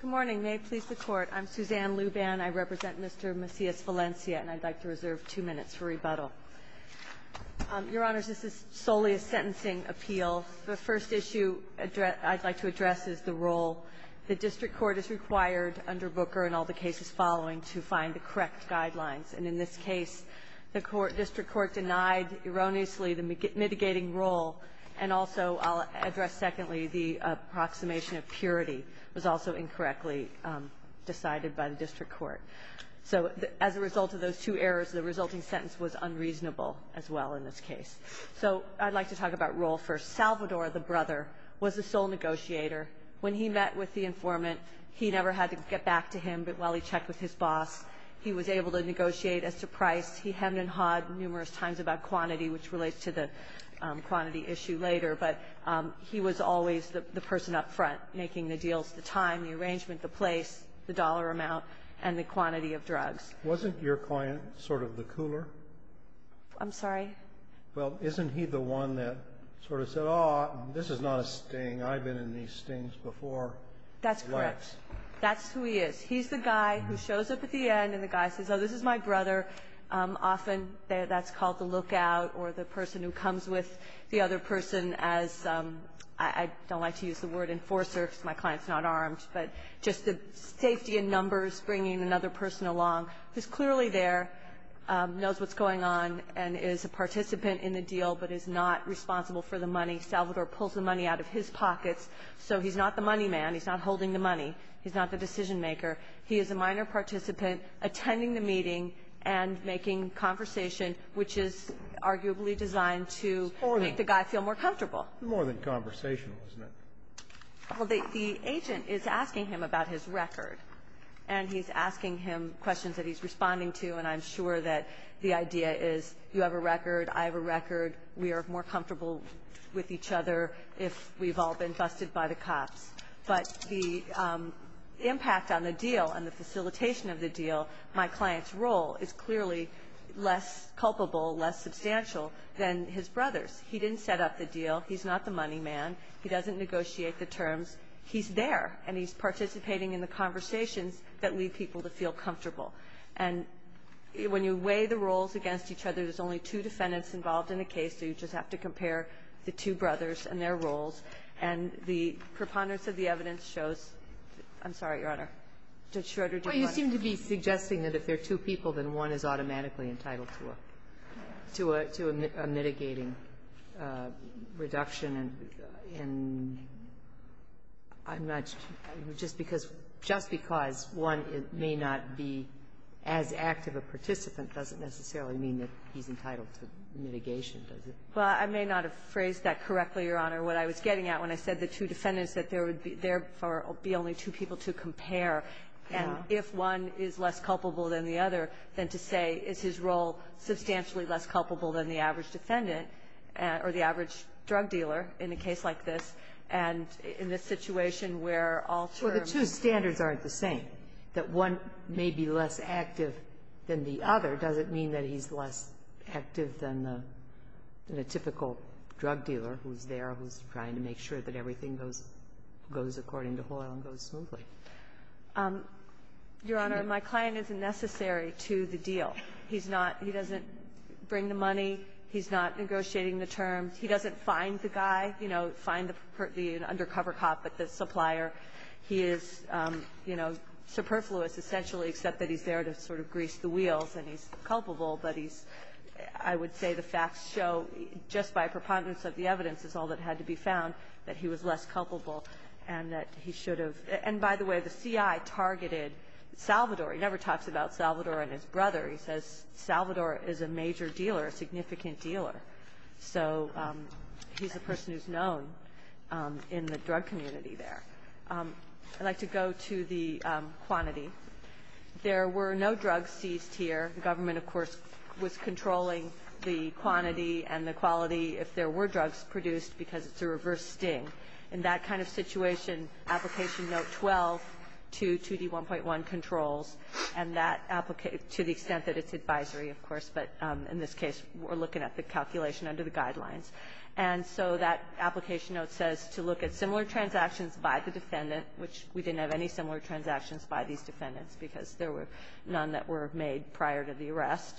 Good morning. May it please the Court, I'm Suzanne Luban. I represent Mr. Macias-Valencia, and I'd like to reserve two minutes for rebuttal. Your Honors, this is solely a sentencing appeal. The first issue I'd like to address is the role. The district court is required under Booker and all the cases following to find the correct guidelines. And in this case, the district court denied, erroneously, the mitigating role. And also, I'll address secondly, the approximation of purity was also incorrectly decided by the district court. So as a result of those two errors, the resulting sentence was unreasonable, as well, in this case. So I'd like to talk about role first. Salvador, the brother, was the sole negotiator. When he met with the informant, he never had to get back to him, but while he checked with his boss, he was able to negotiate as to price. He hemmed and hawed numerous times about quantity, which relates to the quantity issue later. But he was always the person up front, making the deals, the time, the arrangement, the place, the dollar amount, and the quantity of drugs. Wasn't your client sort of the cooler? I'm sorry? Well, isn't he the one that sort of said, oh, this is not a sting. I've been in these stings before. That's correct. That's who he is. He's the guy who shows up at the end, and the guy says, oh, this is my brother. Often, that's called the lookout or the person who comes with the other person as, I don't like to use the word enforcer because my client's not armed, but just the safety in numbers, bringing another person along, who's clearly there, knows what's going on, and is a participant in the deal, but is not responsible for the money. Salvador pulls the money out of his pockets, so he's not the money man. He's not holding the money. He's not the decision maker. He is a minor participant attending the meeting and making conversation, which is arguably designed to make the guy feel more comfortable. More than conversational, isn't it? Well, the agent is asking him about his record, and he's asking him questions that he's responding to, and I'm sure that the idea is you have a record, I have a record, we are more comfortable with each other if we've all been busted by the cops, but the impact on the deal and the facilitation of the deal, my client's role is clearly less culpable, less substantial than his brother's. He didn't set up the deal. He's not the money man. He doesn't negotiate the terms. He's there, and he's participating in the conversations that lead people to feel comfortable, and when you weigh the roles against each other, there's only two defendants involved in the case, so you just have to compare the two brothers and their roles, and the preponderance of the evidence shows, I'm sorry, Your Honor. Judge Schroeder, do you want to? Well, you seem to be suggesting that if there are two people, then one is automatically entitled to a mitigating reduction, and I'm not just because one may not be as active a participant doesn't necessarily mean that he's entitled to mitigation, does it? Well, I may not have phrased that correctly, Your Honor. What I was getting at when I said the two defendants, that there would be only two people to compare, and if one is less culpable than the other, then to say, is his role substantially less culpable than the average defendant, or the average drug dealer, in a case like this, and in this situation where all terms Well, the two standards aren't the same. That one may be less active than the other doesn't mean that he's less active than the typical drug dealer who's there, who's trying to make sure that everything goes according to oil and goes smoothly. Your Honor, my client isn't necessary to the deal. He's not he doesn't bring the money. He's not negotiating the terms. He doesn't find the guy, you know, find the undercover cop, but the supplier. He is, you know, superfluous essentially, except that he's there to sort of grease the wheels, and he's culpable, but he's I would say the facts show just by preponderance of the evidence is all that had to be found that he was less culpable and that he should have, and by the way, the CI targeted Salvador. He never talks about Salvador and his brother. He says Salvador is a major dealer, a significant dealer. So he's the person who's known in the drug community there. I'd like to go to the quantity. There were no drugs seized here. The government, of course, was controlling the quantity and the quality if there were drugs produced because it's a reverse sting. In that kind of situation, Application Note 12, 2, 2D1.1 controls, and that to the extent that it's advisory, of course, but in this case, we're looking at the calculation under the guidelines. And so that Application Note says to look at similar transactions by the defendant, which we didn't have any similar transactions by these defendants because there were none that were made prior to the arrest.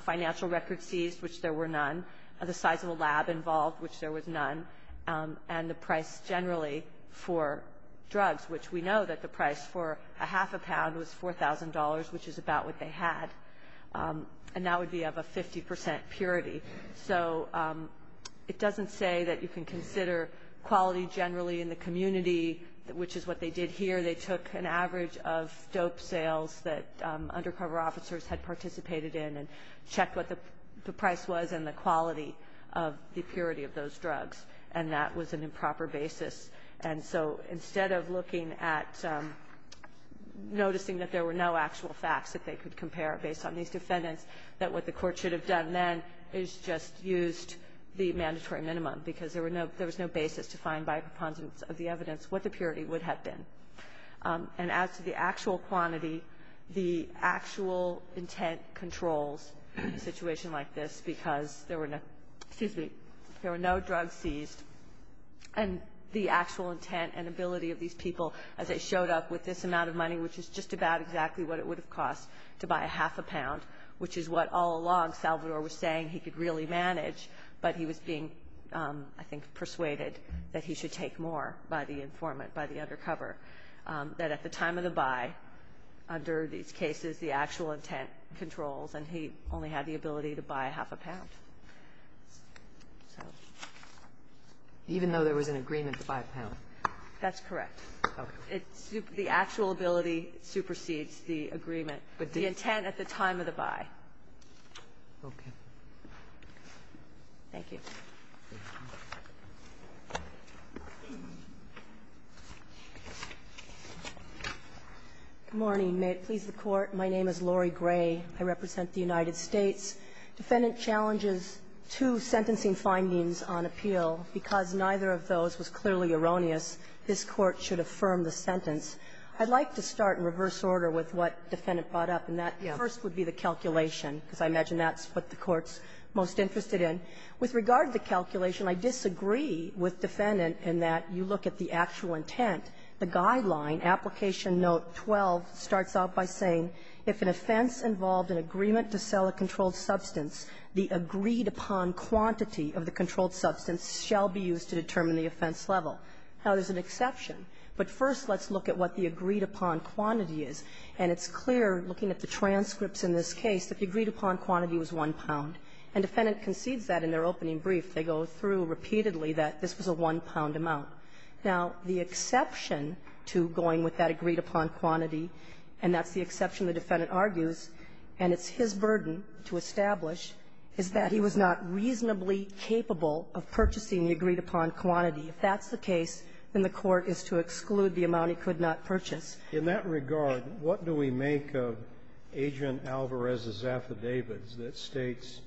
Financial records seized, which there were none. The size of a lab involved, which there was none. And the price, generally, for drugs, which we know that the price for a half a pound was $4,000, which is about what they had, and that would be of a 50% purity. So it doesn't say that you can consider quality generally in the community, which is what they did here. They took an average of dope sales that undercover officers had participated in and checked what the price was and the quality of the purity of those drugs. And that was an improper basis. And so instead of looking at noticing that there were no actual facts that they could compare based on these defendants, that what the court should have done then is just used the mandatory minimum, because there was no basis to find by preponderance of the evidence what the purity would have been. And as to the actual quantity, the actual intent controls a situation like this, because there were no drugs seized, and the actual intent and ability of these people as they showed up with this amount of money, which is just about exactly what it would have cost to buy a half a pound, which is what all along Salvador was saying he could really manage, but he was being, I think, persuaded that he should take more by the informant, by the undercover, that at the time of the buy, under these cases, the actual intent controls, and he only had the ability to buy a half a pound. Even though there was an agreement to buy a pound? That's correct. The actual ability supersedes the agreement, but the intent at the time of the buy. Okay. Thank you. Good morning. May it please the Court. My name is Lori Gray. I represent the United States. Defendant challenges two sentencing findings on appeal. Because neither of those was clearly erroneous, this Court should affirm the sentence. I'd like to start in reverse order with what the Defendant brought up, and that first would be the calculation, because I imagine that's what the Court's most interested in. With regard to the calculation, I disagree with Defendant in that you look at the actual intent. The guideline, Application Note 12, starts out by saying, If an offense involved an agreement to sell a controlled substance, the agreed-upon quantity of the controlled substance shall be used to determine the offense level. Now, there's an exception, but first let's look at what the agreed-upon quantity is. And it's clear, looking at the transcripts in this case, that the agreed-upon quantity was one pound. And the Defendant concedes that in their opening brief. They go through repeatedly that this was a one-pound amount. Now, the exception to going with that agreed-upon quantity, and that's the exception the Defendant argues, and it's his burden to establish, is that he was not reasonably capable of purchasing the agreed-upon quantity. If that's the case, then the Court is to exclude the amount he could not purchase. In that regard, what do we make of Agent Alvarez's affidavits that states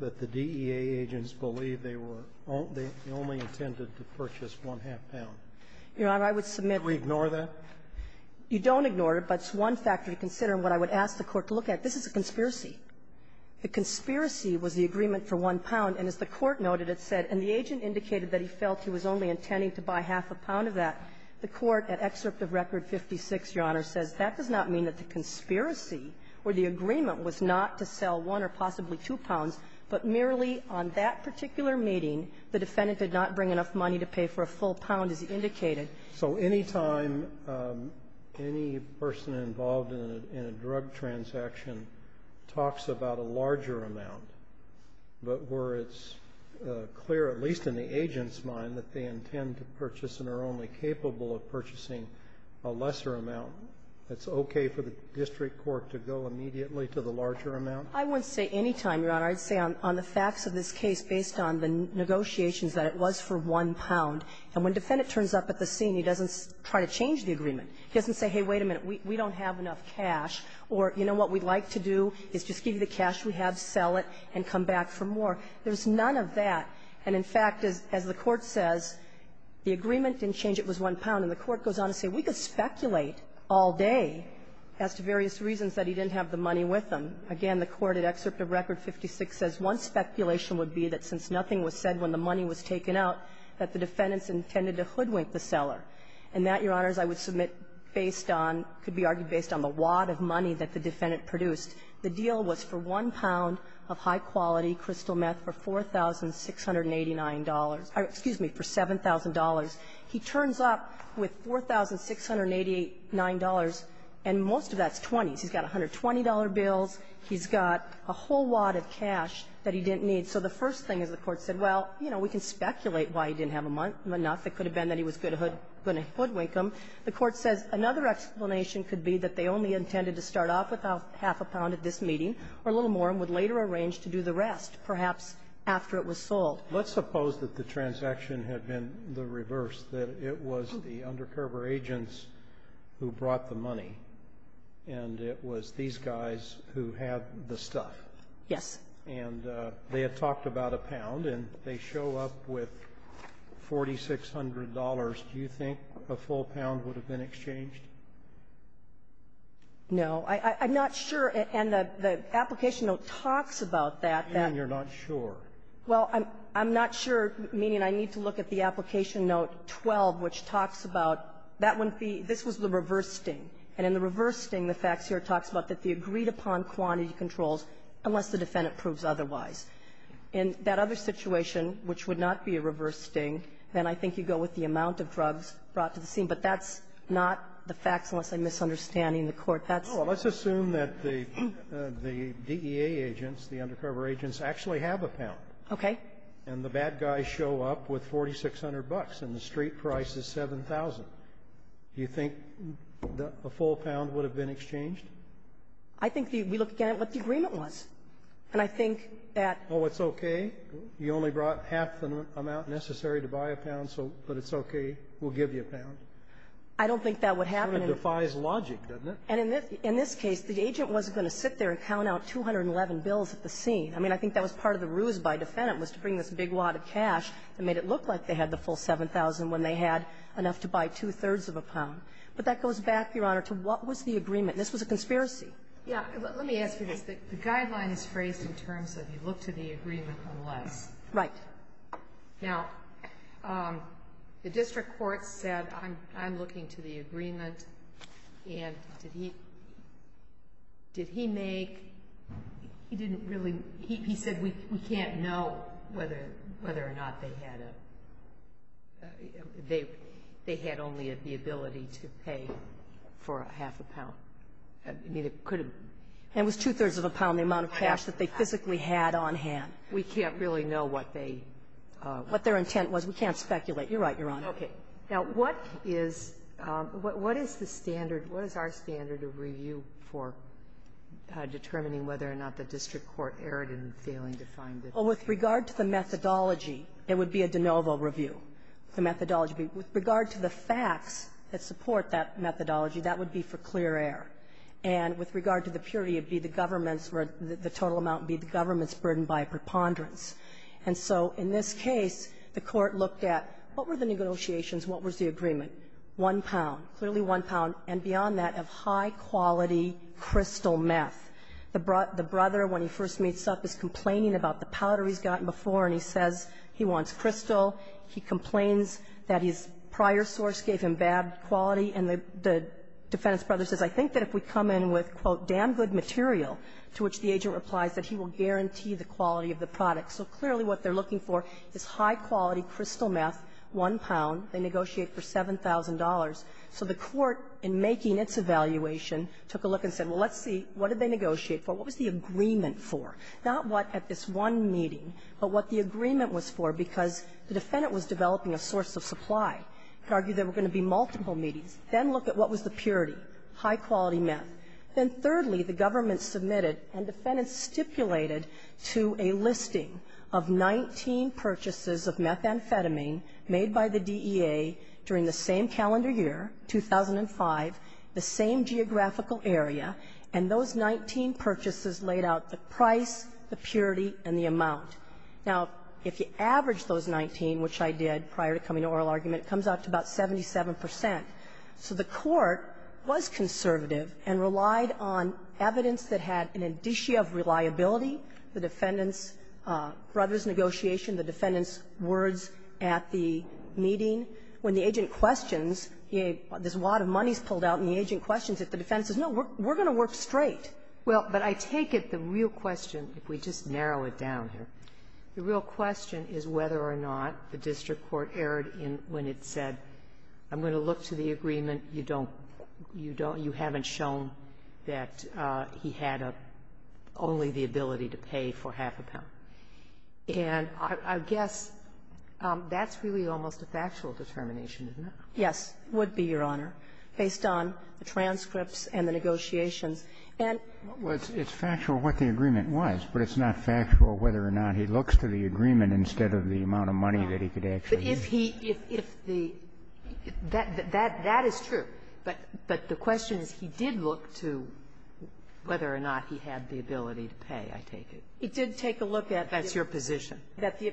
that the DEA agents believe they were only intended to purchase one-half pound? Your Honor, I would submit that we ignore that? You don't ignore it, but it's one factor to consider. And what I would ask the Court to look at, this is a conspiracy. The conspiracy was the agreement for one pound. And as the Court noted, it said, and the agent indicated that he felt he was only Your Honor, says that does not mean that the conspiracy or the agreement was not to sell one or possibly two pounds, but merely on that particular meeting, the Defendant did not bring enough money to pay for a full pound, as he indicated. So any time any person involved in a drug transaction talks about a larger amount, but where it's clear, at least in the agent's mind, that they intend to purchase a lesser amount, it's okay for the district court to go immediately to the larger amount? I wouldn't say any time, Your Honor. I'd say on the facts of this case, based on the negotiations, that it was for one pound. And when the Defendant turns up at the scene, he doesn't try to change the agreement. He doesn't say, hey, wait a minute, we don't have enough cash, or you know what we'd like to do is just give you the cash we have, sell it, and come back for more. There's none of that. And, in fact, as the Court says, the agreement didn't change, it was one pound. And the Court goes on to say, we could speculate all day as to various reasons that he didn't have the money with him. Again, the Court at Excerpt of Record 56 says, one speculation would be that since nothing was said when the money was taken out, that the Defendant's intended to hoodwink the seller. And that, Your Honors, I would submit based on, could be argued based on the wad of money that the Defendant produced. The deal was for one pound of high-quality crystal meth for $4,689 or, excuse me, for $7,000. He turns up with $4,689, and most of that's 20s. He's got $120 bills. He's got a whole wad of cash that he didn't need. So the first thing is the Court said, well, you know, we can speculate why he didn't have enough. It could have been that he was going to hoodwink him. The Court says another explanation could be that they only intended to start off with half a pound at this meeting, or a little more, and would later arrange to do the rest, perhaps after it was sold. Let's suppose that the transaction had been the reverse, that it was the undercover agents who brought the money, and it was these guys who had the stuff. Yes. And they had talked about a pound, and they show up with $4,600. Do you think a full pound would have been exchanged? No. I'm not sure. And the application note talks about that. And you're not sure. Well, I'm not sure, meaning I need to look at the application note 12, which talks about that wouldn't be the reverse sting. And in the reverse sting, the facts here talks about that the agreed-upon quantity controls unless the defendant proves otherwise. In that other situation, which would not be a reverse sting, then I think you go with the amount of drugs brought to the scene. But that's not the facts, unless I'm misunderstanding the Court. That's not the facts. Well, let's assume that the DEA agents, the undercover agents, actually have a pound. Okay. And the bad guys show up with $4,600, and the street price is $7,000. Do you think a full pound would have been exchanged? I think we look again at what the agreement was. And I think that ---- Oh, it's okay. You only brought half the amount necessary to buy a pound, but it's okay. We'll give you a pound. I don't think that would happen in ---- It defies logic, doesn't it? And in this case, the agent wasn't going to sit there and count out 211 bills at the scene. I mean, I think that was part of the ruse by the defendant was to bring this big wad of cash that made it look like they had the full 7,000 when they had enough to buy two-thirds of a pound. But that goes back, Your Honor, to what was the agreement. This was a conspiracy. Yeah. Let me ask you this. The guideline is phrased in terms of you look to the agreement unless. Right. Now, the district court said, I'm looking to the agreement. And did he make ---- he didn't really ---- he said, we can't know whether or not they had a ---- they had only the ability to pay for half a pound. I mean, it could have ---- And it was two-thirds of a pound, the amount of cash that they physically had on hand. We can't really know what they ---- What their intent was. We can't speculate. You're right, Your Honor. Okay. Now, what is the standard? What is our standard of review for determining whether or not the district court erred in failing to find the ---- Well, with regard to the methodology, it would be a de novo review. The methodology would be, with regard to the facts that support that methodology, that would be for clear error. And with regard to the purity, it would be the government's ---- the total amount would be the government's burden by preponderance. And so in this case, the Court looked at what were the negotiations, what was the agreement? One pound, clearly one pound, and beyond that, of high-quality crystal meth. The brother, when he first meets up, is complaining about the powder he's gotten before, and he says he wants crystal. He complains that his prior source gave him bad quality. And the defendant's brother says, I think that if we come in with, quote, damn good material, to which the agent replies that he will guarantee the quality of the product. So clearly, what they're looking for is high-quality crystal meth, one pound. They negotiate for $7,000. So the Court, in making its evaluation, took a look and said, well, let's see, what did they negotiate for? What was the agreement for? Not what at this one meeting, but what the agreement was for, because the defendant was developing a source of supply. You could argue there were going to be multiple meetings. Then look at what was the purity, high-quality meth. Then thirdly, the government submitted and the defendants stipulated to a listing of 19 purchases of methamphetamine made by the DEA during the same calendar year, 2005, the same geographical area, and those 19 purchases laid out the price, the purity, and the amount. Now, if you average those 19, which I did prior to coming to oral argument, it comes out to about 77 percent. So the Court was conservative and relied on evidence that had an indicia of reliability, the defendant's brother's negotiation, the defendant's words at the meeting. When the agent questions, this wad of money is pulled out, and the agent questions if the defendant says, no, we're going to work straight. Well, but I take it the real question, if we just narrow it down here, the real question is whether or not the district court erred in when it said, I'm going to look to the agreement, you don't, you don't, you haven't shown that he had a, only the ability to pay for half a pound. And I guess that's really almost a factual determination, isn't it? Yes, it would be, Your Honor, based on the transcripts and the negotiations. And what was the question? It's factual what the agreement was, but it's not factual whether or not he looks to the agreement instead of the amount of money that he could actually use. If he, if the, that, that is true. But the question is, he did look to whether or not he had the ability to pay, I take it. He did take a look at the ---- That's your position.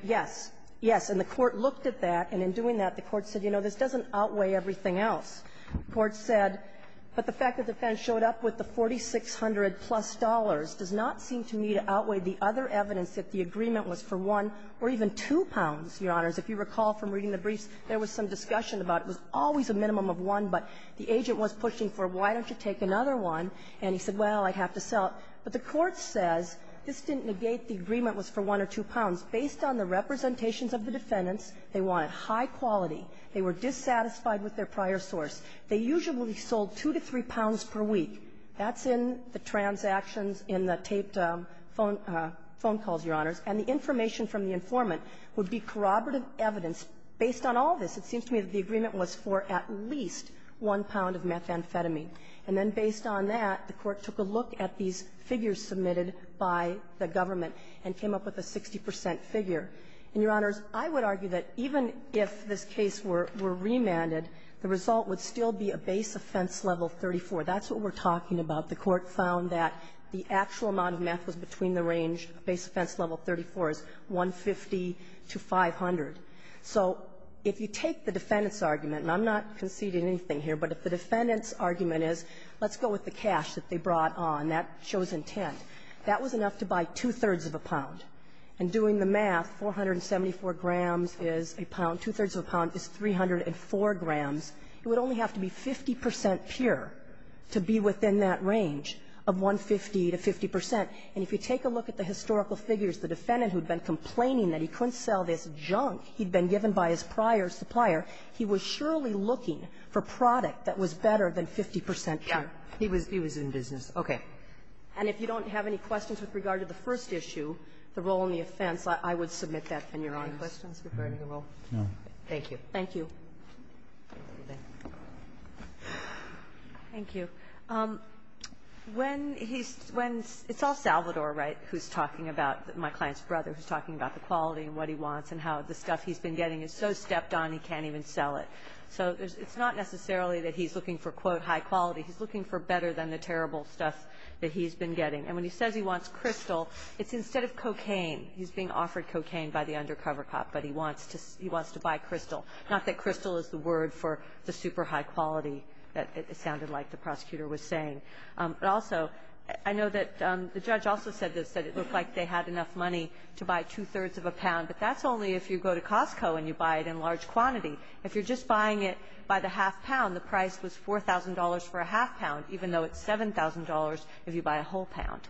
Yes. Yes. And the Court looked at that, and in doing that, the Court said, you know, this doesn't outweigh everything else. The Court said, but the fact that the defense showed up with the 4,600-plus dollars does not seem to me to outweigh the other evidence that the agreement was for one or even two pounds, Your Honors. If you recall from reading the briefs, there was some discussion about it was always a minimum of one, but the agent was pushing for, why don't you take another one? And he said, well, I'd have to sell it. But the Court says this didn't negate the agreement was for one or two pounds. Based on the representations of the defendants, they wanted high quality. They were dissatisfied with their prior source. They usually sold two to three pounds per week. That's in the transactions in the taped phone, phone calls, Your Honors. And the information from the informant would be corroborative evidence. Based on all this, it seems to me that the agreement was for at least one pound of methamphetamine. And then based on that, the Court took a look at these figures submitted by the government and came up with a 60 percent figure. And, Your Honors, I would argue that even if this case were remanded, the result would still be a base offense level 34. That's what we're talking about. The Court found that the actual amount of meth was between the range, base offense level 34 is 150 to 500. So if you take the defendant's argument, and I'm not conceding anything here, but if the defendant's argument is, let's go with the cash that they brought on, that shows intent, that was enough to buy two-thirds of a pound. And doing the math, 474 grams is a pound. Two-thirds of a pound is 304 grams. It would only have to be 50 percent pure to be within that range of 150 to 50 percent. And if you take a look at the historical figures, the defendant who had been complaining that he couldn't sell this junk he'd been given by his prior supplier, he was surely looking for product that was better than 50 percent pure. Kagan. He was in business. Okay. And if you don't have any questions with regard to the first issue, the role in the offense, I would submit that, Your Honors. Any questions regarding the role? No. Thank you. Thank you. Thank you. When he's – when – it's all Salvador, right, who's talking about – my client's brother, who's talking about the quality and what he wants and how the stuff he's been getting is so stepped on he can't even sell it. So it's not necessarily that he's looking for, quote, high quality. He's looking for better than the terrible stuff that he's been getting. And when he says he wants crystal, it's instead of cocaine. He's being offered cocaine by the undercover cop, but he wants to – he wants to buy crystal. Not that crystal is the word for the super high quality that it sounded like the prosecutor was saying. But also, I know that the judge also said this, that it looked like they had enough money to buy two-thirds of a pound. But that's only if you go to Costco and you buy it in large quantity. If you're just buying it by the half pound, the price was $4,000 for a half pound, even though it's $7,000 if you buy a whole pound.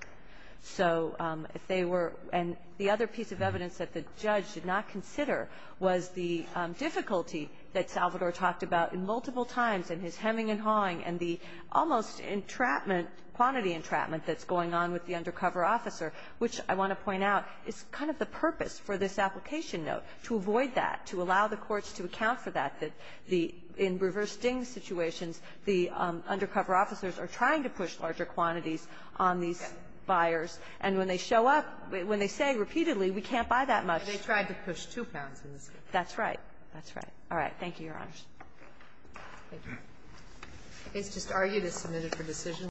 So if they were – and the other piece of evidence that the judge did not consider was the difficulty that Salvador talked about multiple times in his hemming and hawing and the almost entrapment, quantity entrapment, that's going on with the undercover officer, which I want to point out is kind of the purpose for this application note, to avoid that, to allow the courts to account for that, that the – in reverse-ding situations, the undercover officers are trying to push larger quantities on these buyers. And when they show up, when they say repeatedly, we can't buy that much – That's right. That's right. All right. Thank you, Your Honors. Thank you. It's just argued it's submitted for decision.